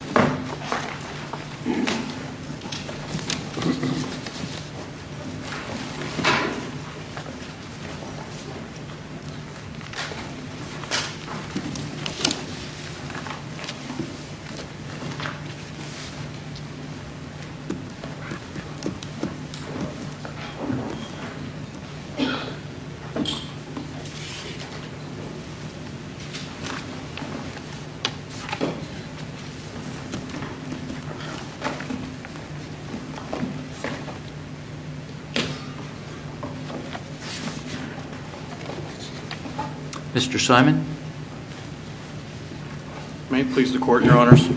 Court of Appeals. Mr. Simon. May it please the Court, Your Honors.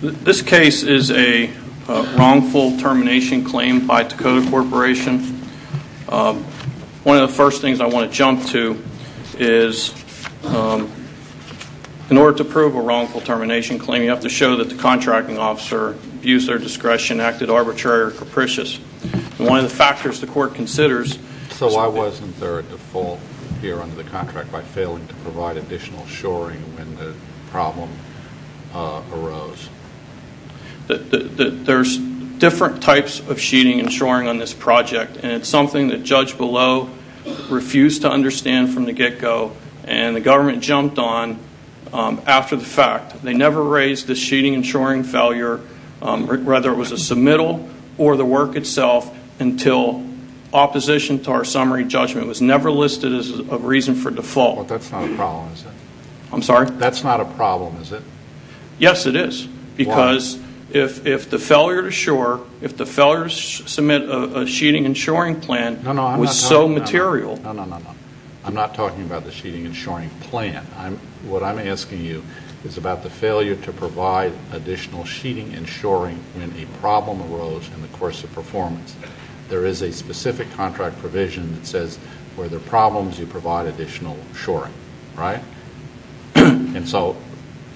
This case is a wrongful termination claim by TAKOTA CORPORATION. One of the first things I want to jump to is, in order to prove a wrongful termination claim, you have to show that the contracting officer abused their discretion, acted arbitrary or capricious. And one of the factors the Court considers... So why wasn't there a default here under the contract by failing to provide additional shoring when the problem arose? There's different types of sheeting and shoring on this project, and it's something that Judge Below refused to understand from the get-go, and the government jumped on after the fact. They never raised the sheeting and shoring failure, whether it was a submittal or the work itself, until opposition to our summary judgment was never listed as a reason for default. But that's not a problem, is it? I'm sorry? That's not a problem, is it? Yes, it is. Why? Because if the failure to submit a sheeting and shoring plan was so material... No, no, no, no. I'm not talking about the sheeting and shoring plan. What I'm asking you is about the failure to provide additional sheeting and shoring when a problem arose in the course of performance. There is a specific contract provision that says, where there are problems, you provide additional shoring, right?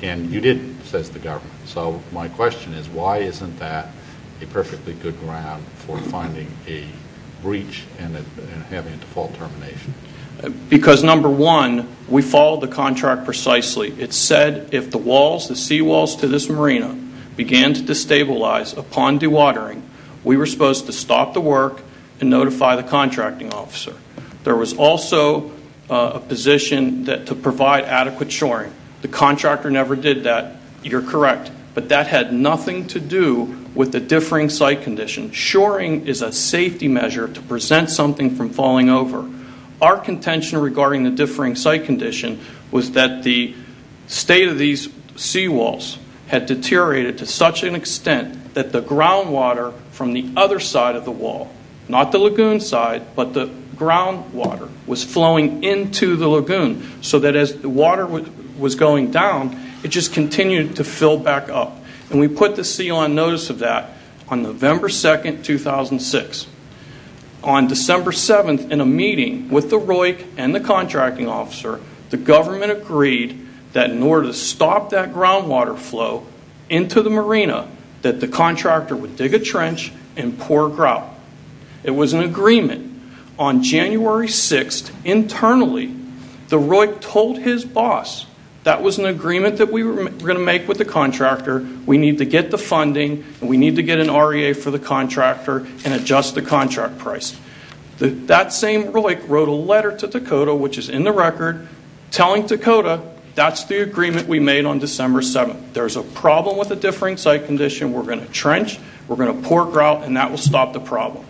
And you didn't, says the government. So my question is, why isn't that a perfectly good ground for finding a breach and having a default termination? Because number one, we followed the contract precisely. It said if the sea walls to this marina began to destabilize upon dewatering, we were supposed to stop the work and notify the contracting officer. There was also a position to provide adequate shoring. The contractor never did that. You're correct. But that had nothing to do with the differing site condition. Shoring is a safety measure to present something from falling over. Our contention regarding the differing site condition was that the state of these sea walls had deteriorated to such an extent that the groundwater from the other side of the groundwater was flowing into the lagoon, so that as the water was going down, it just continued to fill back up. And we put the seal on notice of that on November 2nd, 2006. On December 7th, in a meeting with the ROIC and the contracting officer, the government agreed that in order to stop that groundwater flow into the marina, that the contractor would dig a trench and pour grout. It was an agreement. On January 6th, internally, the ROIC told his boss that was an agreement that we were going to make with the contractor, we need to get the funding, and we need to get an REA for the contractor and adjust the contract price. That same ROIC wrote a letter to Dakota, which is in the record, telling Dakota that's the agreement we made on December 7th. There's a problem with the differing site condition, we're going to trench, we're going to pour grout, and that will stop the problem.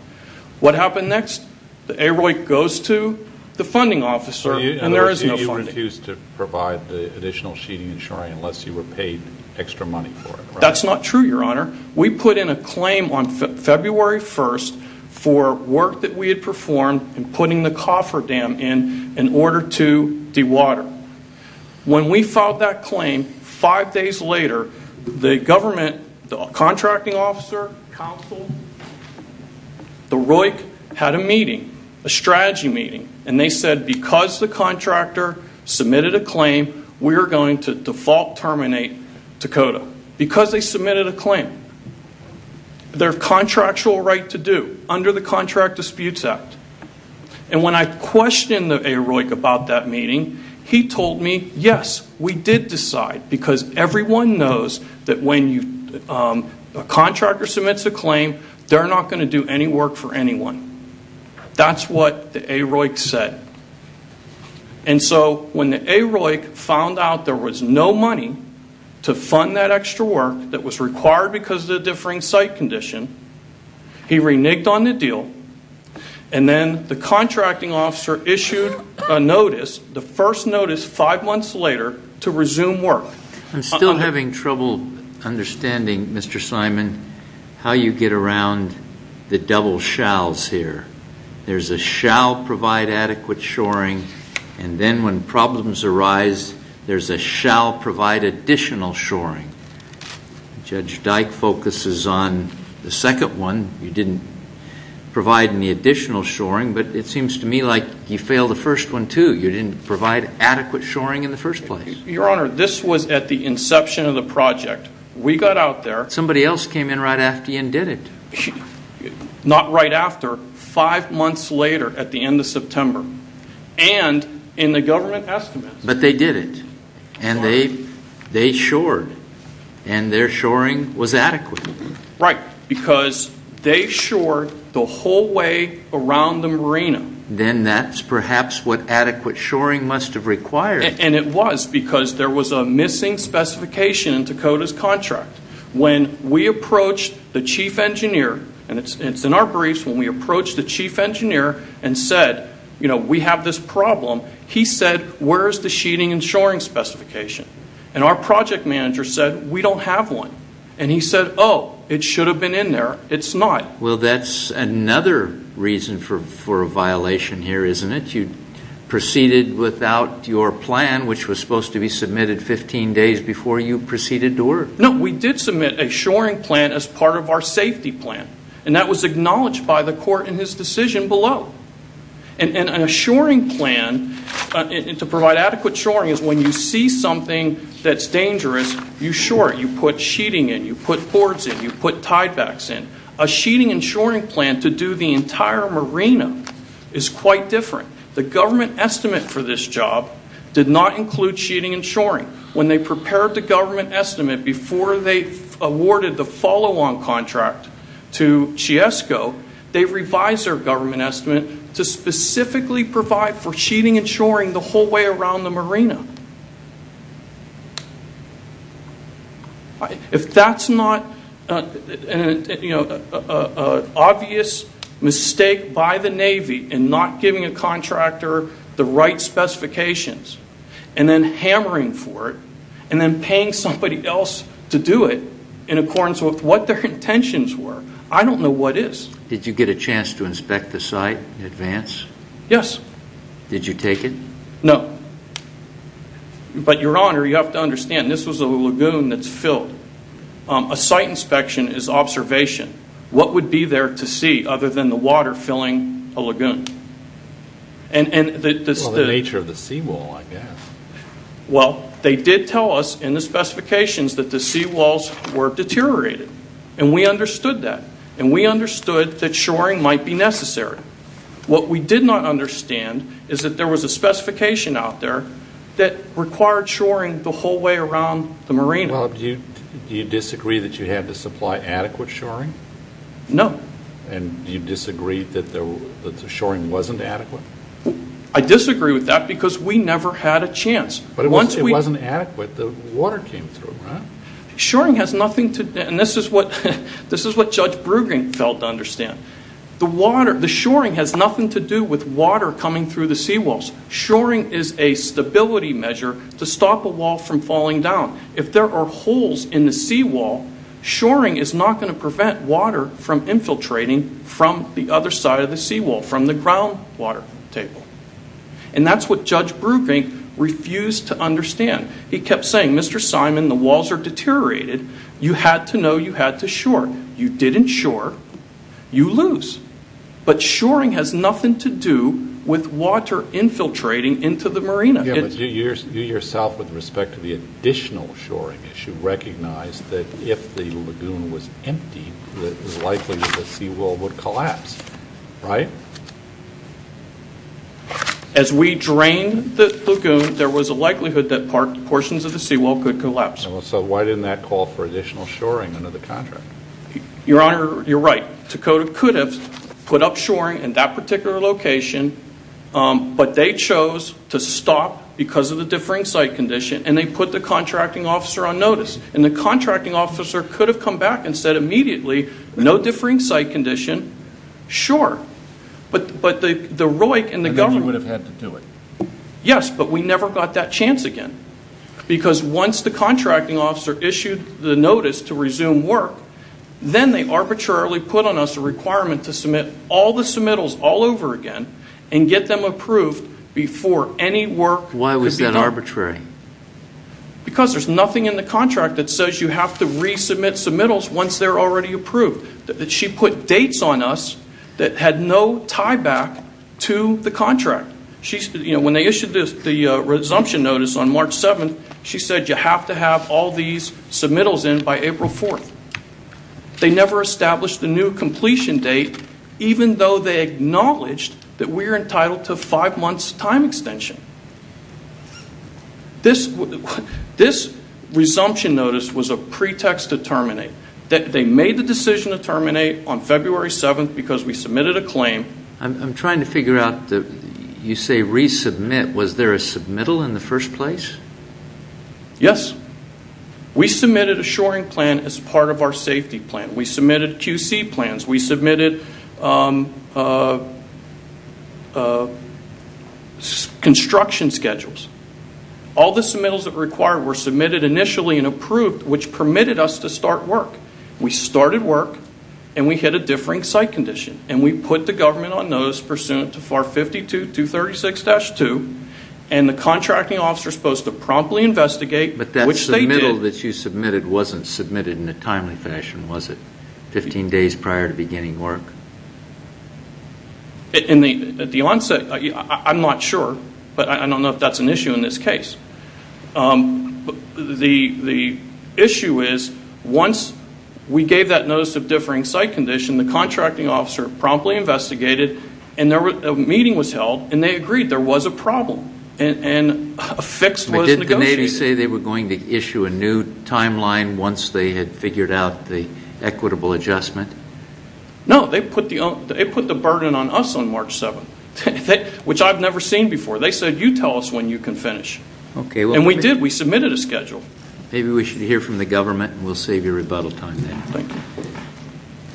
What happened next? The AROIC goes to the funding officer, and there is no funding. So you refused to provide the additional sheeting and shoring unless you were paid extra money for it, right? That's not true, Your Honor. We put in a claim on February 1st for work that we had performed in putting the coffer dam in, in order to dewater. When we filed that claim, five days later, the government, the contracting officer, counsel, the ROIC had a meeting, a strategy meeting, and they said because the contractor submitted a claim, we are going to default terminate Dakota. Because they submitted a claim. Their contractual right to do, under the Contract Disputes Act. And when I questioned the AROIC about that meeting, he told me, yes, we did decide, because everyone knows that when a contractor submits a claim, they're not going to do any work for anyone. That's what the AROIC said. And so when the AROIC found out there was no money to fund that extra work that was then the contracting officer issued a notice, the first notice five months later, to resume work. I'm still having trouble understanding, Mr. Simon, how you get around the double shalls here. There's a shall provide adequate shoring, and then when problems arise, there's a shall provide additional shoring. Judge Dyke focuses on the second one. You didn't provide any additional shoring, but it seems to me like you failed the first one too. You didn't provide adequate shoring in the first place. Your Honor, this was at the inception of the project. We got out there. Somebody else came in right after you and did it. Not right after. Five months later, at the end of September, and in the government estimates. But they did it, and they shored, and their shoring was adequate. Right. Because they shored the whole way around the marina. Then that's perhaps what adequate shoring must have required. And it was, because there was a missing specification in Dakota's contract. When we approached the chief engineer, and it's in our briefs, when we approached the chief engineer and said, you know, we have this problem, he said, where's the sheeting and shoring specification? And our project manager said, we don't have one. And he said, oh, it should have been in there. It's not. Well, that's another reason for a violation here, isn't it? You proceeded without your plan, which was supposed to be submitted 15 days before you proceeded to order. No, we did submit a shoring plan as part of our safety plan. And that was acknowledged by the court in his decision below. And a shoring plan, to provide adequate shoring, is when you see something that's dangerous, you shore it. You put sheeting in. You put boards in. You put tiebacks in. A sheeting and shoring plan to do the entire marina is quite different. The government estimate for this job did not include sheeting and shoring. When they prepared the government estimate before they awarded the follow-on contract to Chiesco, they revised their government estimate to specifically provide for sheeting and shoring the whole way around the marina. If that's not an obvious mistake by the Navy in not giving a contractor the right specifications and then hammering for it and then paying somebody else to do it in accordance with what their intentions were, I don't know what is. Did you get a chance to inspect the site in advance? Yes. Did you take it? No. But, Your Honor, you have to understand, this was a lagoon that's filled. A site inspection is observation. What would be there to see other than the water filling a lagoon? Well, the nature of the seawall, I guess. Well, they did tell us in the specifications that the seawalls were deteriorated. And we understood that. And we understood that shoring might be necessary. What we did not understand is that there was a specification out there that required shoring the whole way around the marina. Well, do you disagree that you had to supply adequate shoring? No. And you disagree that the shoring wasn't adequate? I disagree with that because we never had a chance. But it wasn't adequate. The water came through, right? Shoring has nothing to do, and this is what Judge Brueggen failed to understand. The water, the shoring has nothing to do with water coming through the seawalls. Shoring is a stability measure to stop a wall from falling down. If there are holes in the seawall, shoring is not going to prevent water from infiltrating from the other side of the seawall, from the groundwater table. And that's what Judge Brueggen refused to understand. He kept saying, Mr. Simon, the walls are deteriorated. You had to know you had to shore. You didn't shore. You lose. But shoring has nothing to do with water infiltrating into the marina. Yeah, but you yourself, with respect to the additional shoring issue, recognized that if the lagoon was empty, it was likely that the seawall would collapse, right? As we drained the lagoon, there was a likelihood that portions of the seawall could collapse. So why didn't that call for additional shoring under the contract? Your Honor, you're right. Dakota could have put up shoring in that particular location, but they chose to stop because of the differing site condition. And they put the contracting officer on notice. And the contracting officer could have come back and said immediately, no differing site condition, sure. But the ROIC and the government- And then you would have had to do it. Yes, but we never got that chance again. Because once the contracting officer issued the notice to resume work, then they arbitrarily put on us a requirement to submit all the submittals all over again and get them approved before any work- Why was that arbitrary? Because there's nothing in the contract that says you have to resubmit submittals once they're already approved. She put dates on us that had no tie back to the contract. When they issued the resumption notice on March 7th, she said you have to have all these submittals in by April 4th. They never established a new completion date, even though they acknowledged that we're entitled to five months time extension. This resumption notice was a pretext to terminate. They made the decision to terminate on February 7th because we submitted a claim. I'm trying to figure out that you say resubmit. Was there a submittal in the first place? Yes. We submitted a shoring plan as part of our safety plan. We submitted QC plans. We submitted construction schedules. All the submittals that were required were submitted initially and approved, which permitted us to start work. We started work, and we hit a differing site condition. We put the government on notice pursuant to FAR 52-236-2. The contracting officer is supposed to promptly investigate, which they did. That submittal that you submitted wasn't submitted in a timely fashion, was it? Fifteen days prior to beginning work. At the onset, I'm not sure, but I don't know if that's an issue in this case. The issue is, once we gave that notice of differing site condition, the contracting officer promptly investigated, and a meeting was held, and they agreed there was a problem, and a fix was negotiated. Did the Navy say they were going to issue a new timeline once they had figured out the equitable adjustment? No, they put the burden on us on March 7th, which I've never seen before. They said, you tell us when you can finish, and we did. We submitted a schedule. Maybe we should hear from the government, and we'll save you rebuttal time then. Thank you.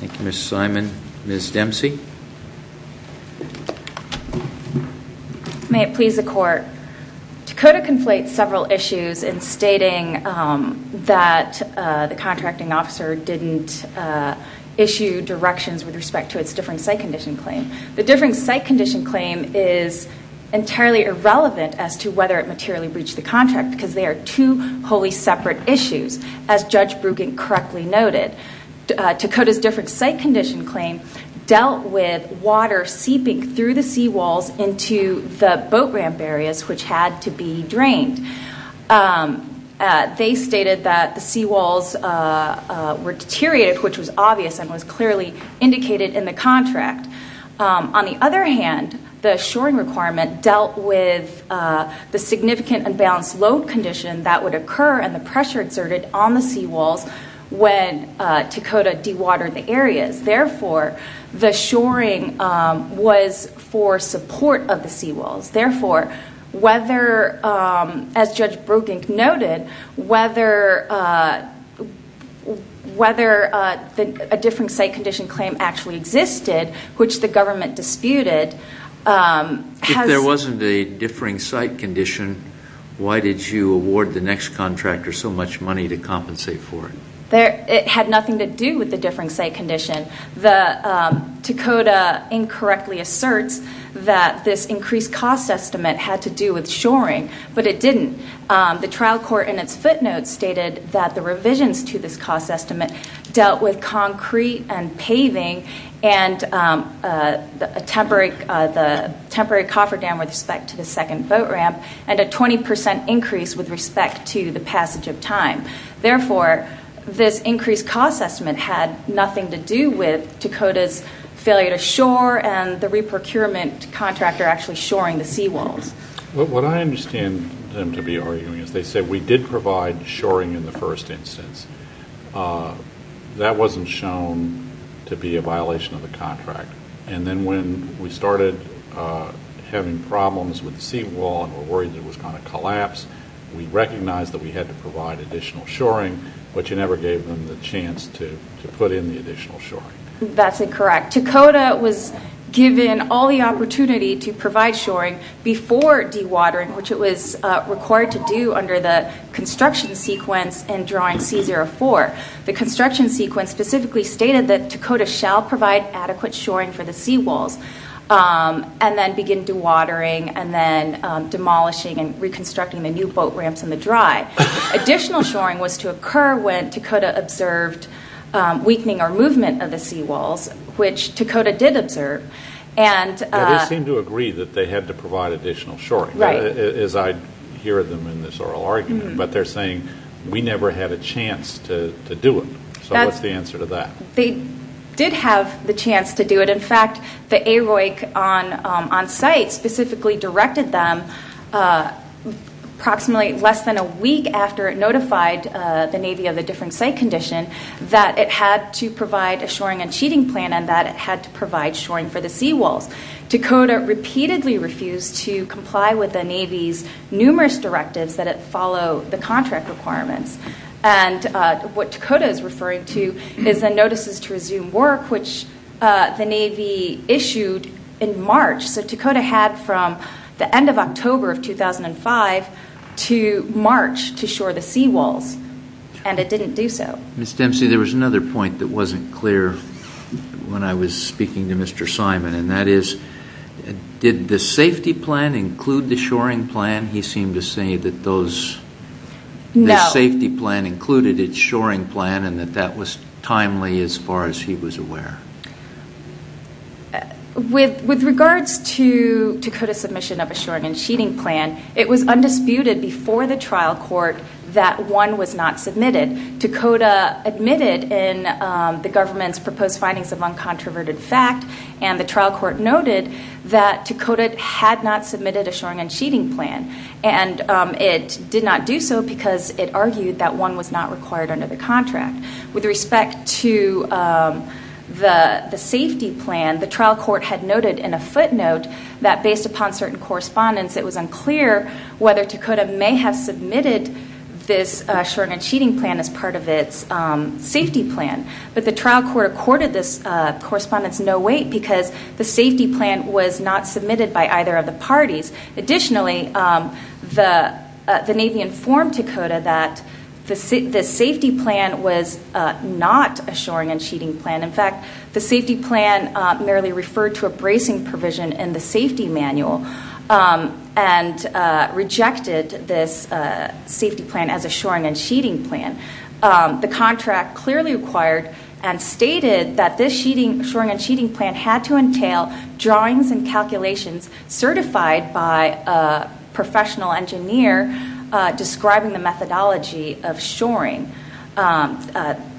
Thank you, Ms. Simon. Ms. Dempsey? May it please the court. Dakota conflates several issues in stating that the contracting officer didn't issue directions with respect to its differing site condition claim. The differing site condition claim is entirely irrelevant as to whether it materially breached the contract, because they are two wholly separate issues, as Judge Brueggen correctly noted. Dakota's different site condition claim dealt with water seeping through the seawalls into the boat ramp areas, which had to be drained. They stated that the seawalls were deteriorated, which was obvious and was clearly indicated in the contract. On the other hand, the shoring requirement dealt with the significant unbalanced load condition that would occur and the pressure exerted on the Dakota dewatered areas. Therefore, the shoring was for support of the seawalls. Therefore, whether, as Judge Brueggen noted, whether a different site condition claim actually existed, which the government disputed, has— If there wasn't a differing site condition, why did you award the next contractor so much money to compensate for it? It had nothing to do with the differing site condition. The Dakota incorrectly asserts that this increased cost estimate had to do with shoring, but it didn't. The trial court in its footnotes stated that the revisions to this cost estimate dealt with concrete and paving and the temporary cofferdam with respect to the second boat ramp and a 20 percent increase with respect to the passage of time. Therefore, this increased cost estimate had nothing to do with Dakota's failure to shore and the re-procurement contractor actually shoring the seawalls. What I understand them to be arguing is they said we did provide shoring in the first instance. That wasn't shown to be a violation of the contract. And then when we started having problems with the seawall and were shoring, but you never gave them the chance to put in the additional shoring. That's incorrect. Dakota was given all the opportunity to provide shoring before dewatering, which it was required to do under the construction sequence in drawing C04. The construction sequence specifically stated that Dakota shall provide adequate shoring for the seawalls and then begin dewatering and then demolishing and reconstructing the new boat ramps in the dry. Additional shoring was to occur when Dakota observed weakening or movement of the seawalls, which Dakota did observe. And they seem to agree that they had to provide additional shoring, as I hear them in this oral argument. But they're saying we never had a chance to do it. So what's the answer to that? They did have the chance to do it. In fact, the AROIC on site specifically directed them approximately less than a week after it notified the Navy of the different site condition that it had to provide a shoring and sheeting plan and that it had to provide shoring for the seawalls. Dakota repeatedly refused to comply with the Navy's numerous directives that it follow the contract requirements. And what Dakota is referring to is the notices to resume work, which the Navy issued in March. So Dakota had from the end of October of 2005 to March to shore the seawalls, and it didn't do so. Ms. Dempsey, there was another point that wasn't clear when I was speaking to Mr. Simon, and that is, did the safety plan include the shoring plan? He seemed to say that this safety plan included its shoring plan and that that was timely as far as he was aware. With regards to Dakota's submission of a shoring and sheeting plan, it was undisputed before the trial court that one was not submitted. Dakota admitted in the government's proposed findings of uncontroverted fact, and the trial court noted that Dakota had not submitted a shoring and sheeting plan. And it did not do so because it argued that one was not required under the contract. With respect to the safety plan, the trial court had noted in a footnote that based upon certain correspondence, it was unclear whether Dakota may have submitted this shoring and sheeting plan as part of its safety plan. But the trial court accorded this correspondence no weight because Additionally, the Navy informed Dakota that the safety plan was not a shoring and sheeting plan. In fact, the safety plan merely referred to a bracing provision in the safety manual and rejected this safety plan as a shoring and sheeting plan. The contract clearly required and stated that this shoring and sheeting plan had to entail drawings and calculations certified by a professional engineer describing the methodology of shoring.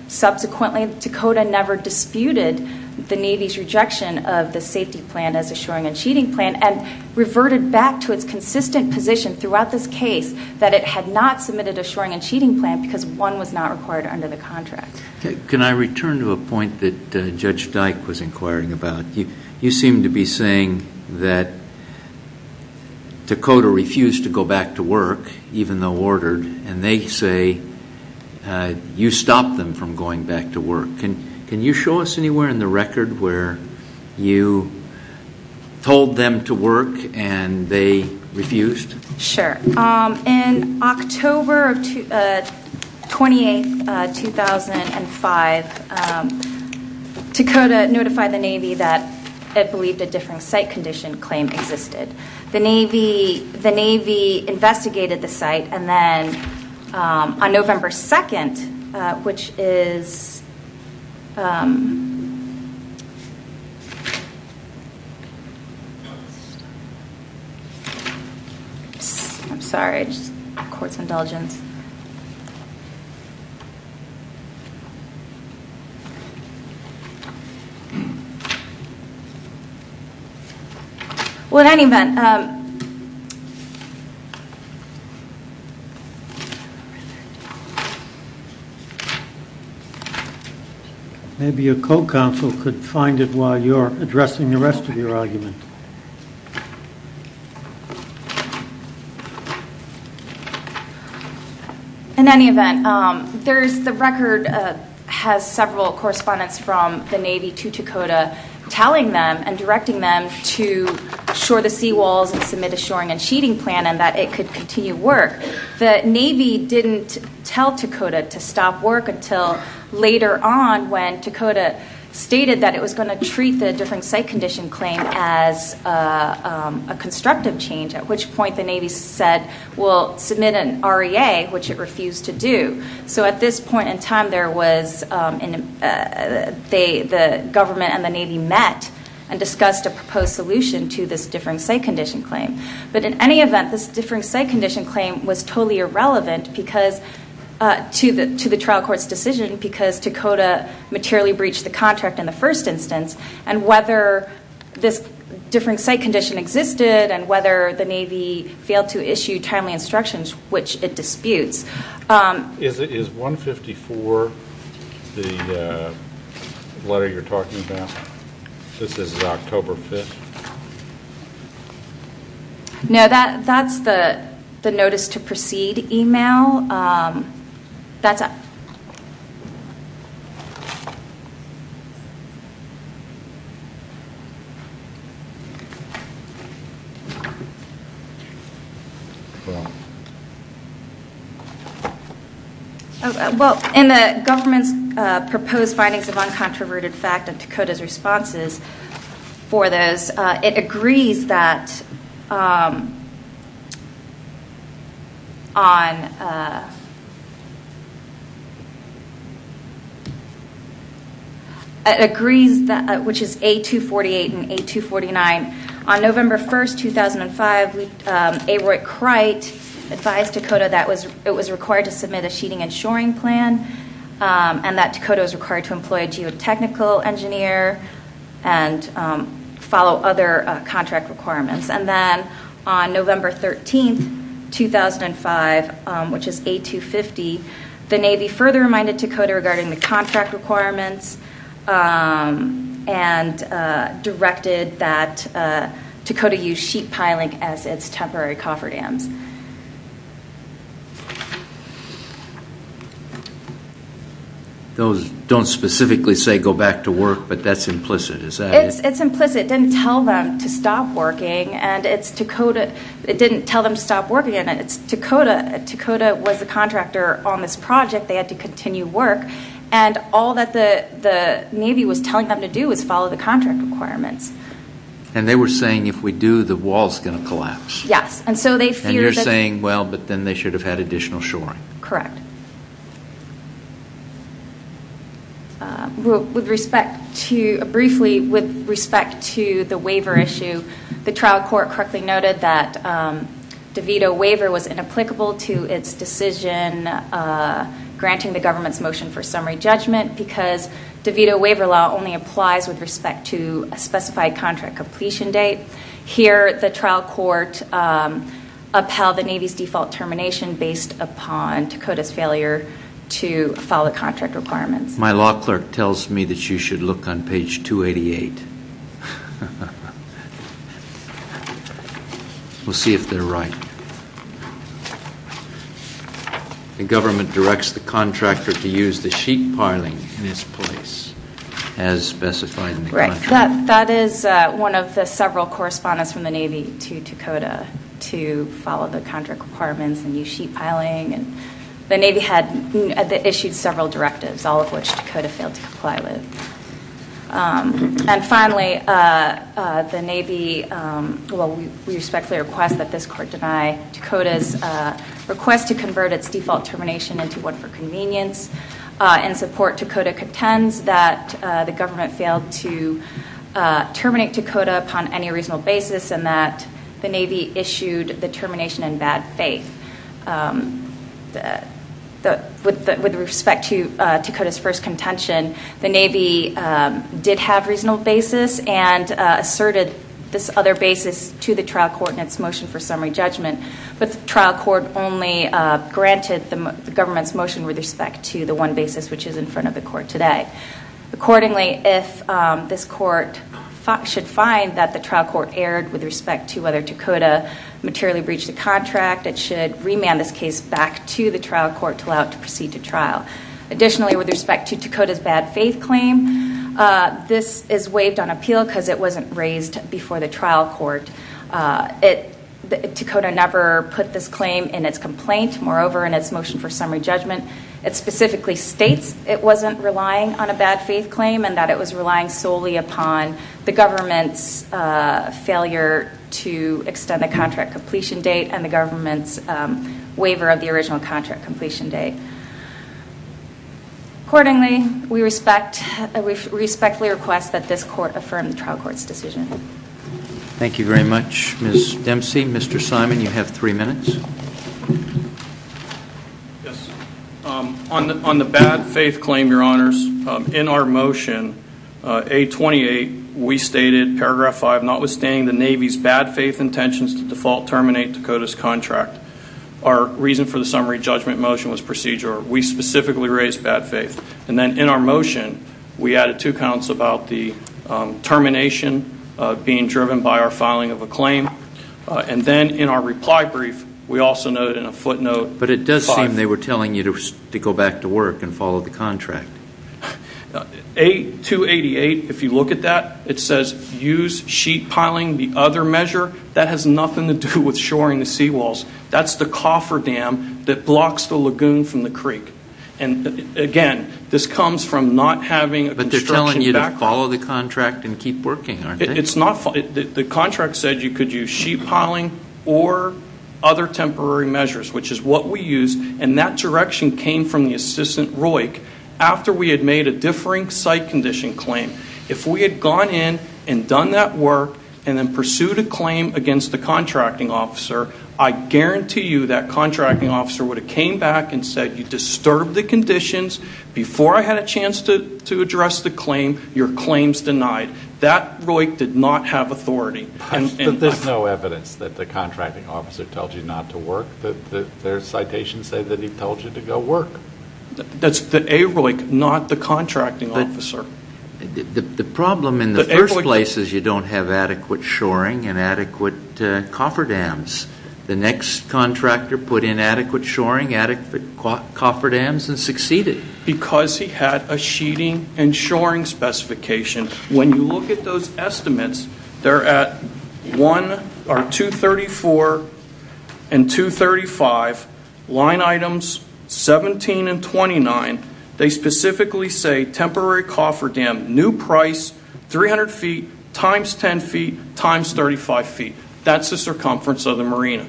Subsequently, Dakota never disputed the Navy's rejection of the safety plan as a shoring and sheeting plan and reverted back to its consistent position throughout this case that it had not submitted a shoring and sheeting plan because one was not required under the contract. Can I return to a point that Judge Dyke was inquiring about? You seem to be saying that Dakota refused to go back to work even though ordered and they say you stopped them from going back to work. Can you show us anywhere in the record where you told them to work and they refused? Sure. In October 28, 2005, Dakota notified the Navy that it believed a different site condition claim existed. The Navy investigated the site and then on November 2, which is court's indulgence. Well, in any event. Maybe a co-counsel could find it while you're addressing the rest of the case. In any event, the record has several correspondents from the Navy to Dakota telling them and directing them to shore the seawalls and submit a shoring and sheeting plan and that it could continue work. The Navy didn't tell Dakota to stop work until later on when Dakota stated that it was going to treat the different site condition claim as a change at which point the Navy said we'll submit an REA, which it refused to do. So at this point in time, the government and the Navy met and discussed a proposed solution to this different site condition claim. But in any event, this different site condition claim was totally irrelevant because to the trial court's decision because Dakota materially breached the contract in the first instance and whether this different site condition existed and whether the Navy failed to issue timely instructions, which it disputes. Is 154 the letter you're talking about? This is October 5th? No, that's the notice to proceed email. That's it. Well, in the government's proposed findings of uncontroverted fact and Dakota's responses for this, it agrees that on, it agrees that which is A248 and A249. On November 1st, 2005, A. Roy Crite advised Dakota that it was required to submit a sheeting and shoring plan and that Dakota was required to employ a geotechnical engineer and follow other contract requirements. And then on November 13th, 2005, which is A250, the Navy further reminded Dakota regarding the contract requirements and directed that Dakota use sheet piling as its temporary cofferdams. Those don't specifically say go back to work, but that's implicit, is that it? It's implicit. It didn't tell them to stop working and it's Dakota. It didn't tell them to stop working and it's Dakota. Dakota was the contractor on this project. They had to continue work and all that the Navy was telling them to do was follow the contract requirements. And they were saying if we do, the wall's going to collapse. Yes, and so they feared that. And you're saying, well, but then they should have had additional shoring. Correct. With respect to, briefly, with respect to the waiver issue, the trial court correctly noted that DeVito waiver was inapplicable to its decision granting the government's motion for summary judgment because DeVito waiver law only applies with respect to a specified contract completion date. Here, the trial court upheld the Navy's default termination based upon Dakota's failure to follow the contract requirements. My law clerk tells me that you should look on page 288. We'll see if they're right. The government directs the contractor to use the sheet piling in its place as specified. That is one of the several correspondence from the Navy to Dakota to follow the contract requirements and use sheet piling. And the Navy had issued several directives, all of which Dakota failed to comply with. And finally, the Navy, well, we respectfully request that this court deny Dakota's request to convert its default termination into one for convenience and support. Dakota contends that the government failed to terminate Dakota upon any reasonable basis and that the Navy issued the termination in bad faith. With respect to Dakota's first contention, the Navy did have reasonable basis and asserted this other basis to the trial court in its motion for summary judgment. But the trial court only granted the government's motion with respect to the one basis which is in front of the court today. Accordingly, if this court should find that the trial court erred with respect to whether Dakota materially breached the contract, it should remand this case back to the trial court to allow it to proceed to trial. Additionally, with respect to Dakota's bad faith claim, this is waived on appeal because it wasn't raised before the trial court. Dakota never put this claim in its complaint. Moreover, in its motion for summary judgment, it specifically states it wasn't relying on a bad faith claim and that it was relying solely upon the government's failure to extend the contract completion date and the government's waiver of the original contract completion date. Accordingly, we respectfully request that this court affirm the trial court's decision. Thank you very much, Ms. Dempsey. Mr. Simon, you have three minutes. Yes. On the bad faith claim, your honors, in our motion, A28, we stated paragraph 5, notwithstanding the Navy's bad faith intentions to default terminate Dakota's contract. Our reason for the summary judgment motion was procedure. We specifically raised bad faith. And then in our motion, we added two counts about the termination being driven by our filing of a claim. And then in our reply brief, we also noted in a footnote 5. But it does seem they were telling you to go back to work and follow the contract. Now, A288, if you look at that, it says use sheet piling. The other measure, that has nothing to do with shoring the seawalls. That's the cofferdam that blocks the lagoon from the creek. And again, this comes from not having a construction backlog. But they're telling you to follow the contract and keep working, aren't they? It's not. The contract said you could use sheet piling or other temporary measures, which is what we used. And that direction came from the assistant ROIC. After we had made a differing site condition claim, if we had gone in and done that work and then pursued a claim against the contracting officer, I guarantee you that contracting officer would have came back and said, you disturbed the conditions. Before I had a chance to address the claim, your claim's denied. That ROIC did not have authority. But there's no evidence that the contracting officer told you not to work. Their citations say that he told you to go work. That's the AROIC, not the contracting officer. The problem in the first place is you don't have adequate shoring and adequate cofferdams. The next contractor put in adequate shoring, adequate cofferdams, and succeeded. Because he had a sheeting and shoring specification. When you look at those estimates, they're at 234 and 235, line items 17 and 29. They specifically say temporary cofferdam, new price, 300 feet, times 10 feet, times 35 feet. That's the circumference of the marina.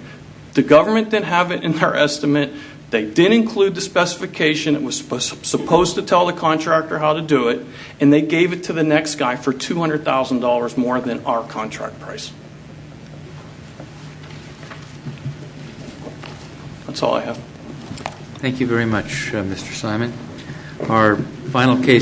The government didn't have it in their estimate. They didn't include the specification. It was supposed to tell the contractor how to do it. And they gave it to the next guy for $200,000 more than our contract price. That's all I have. Thank you very much, Mr. Simon. Our final case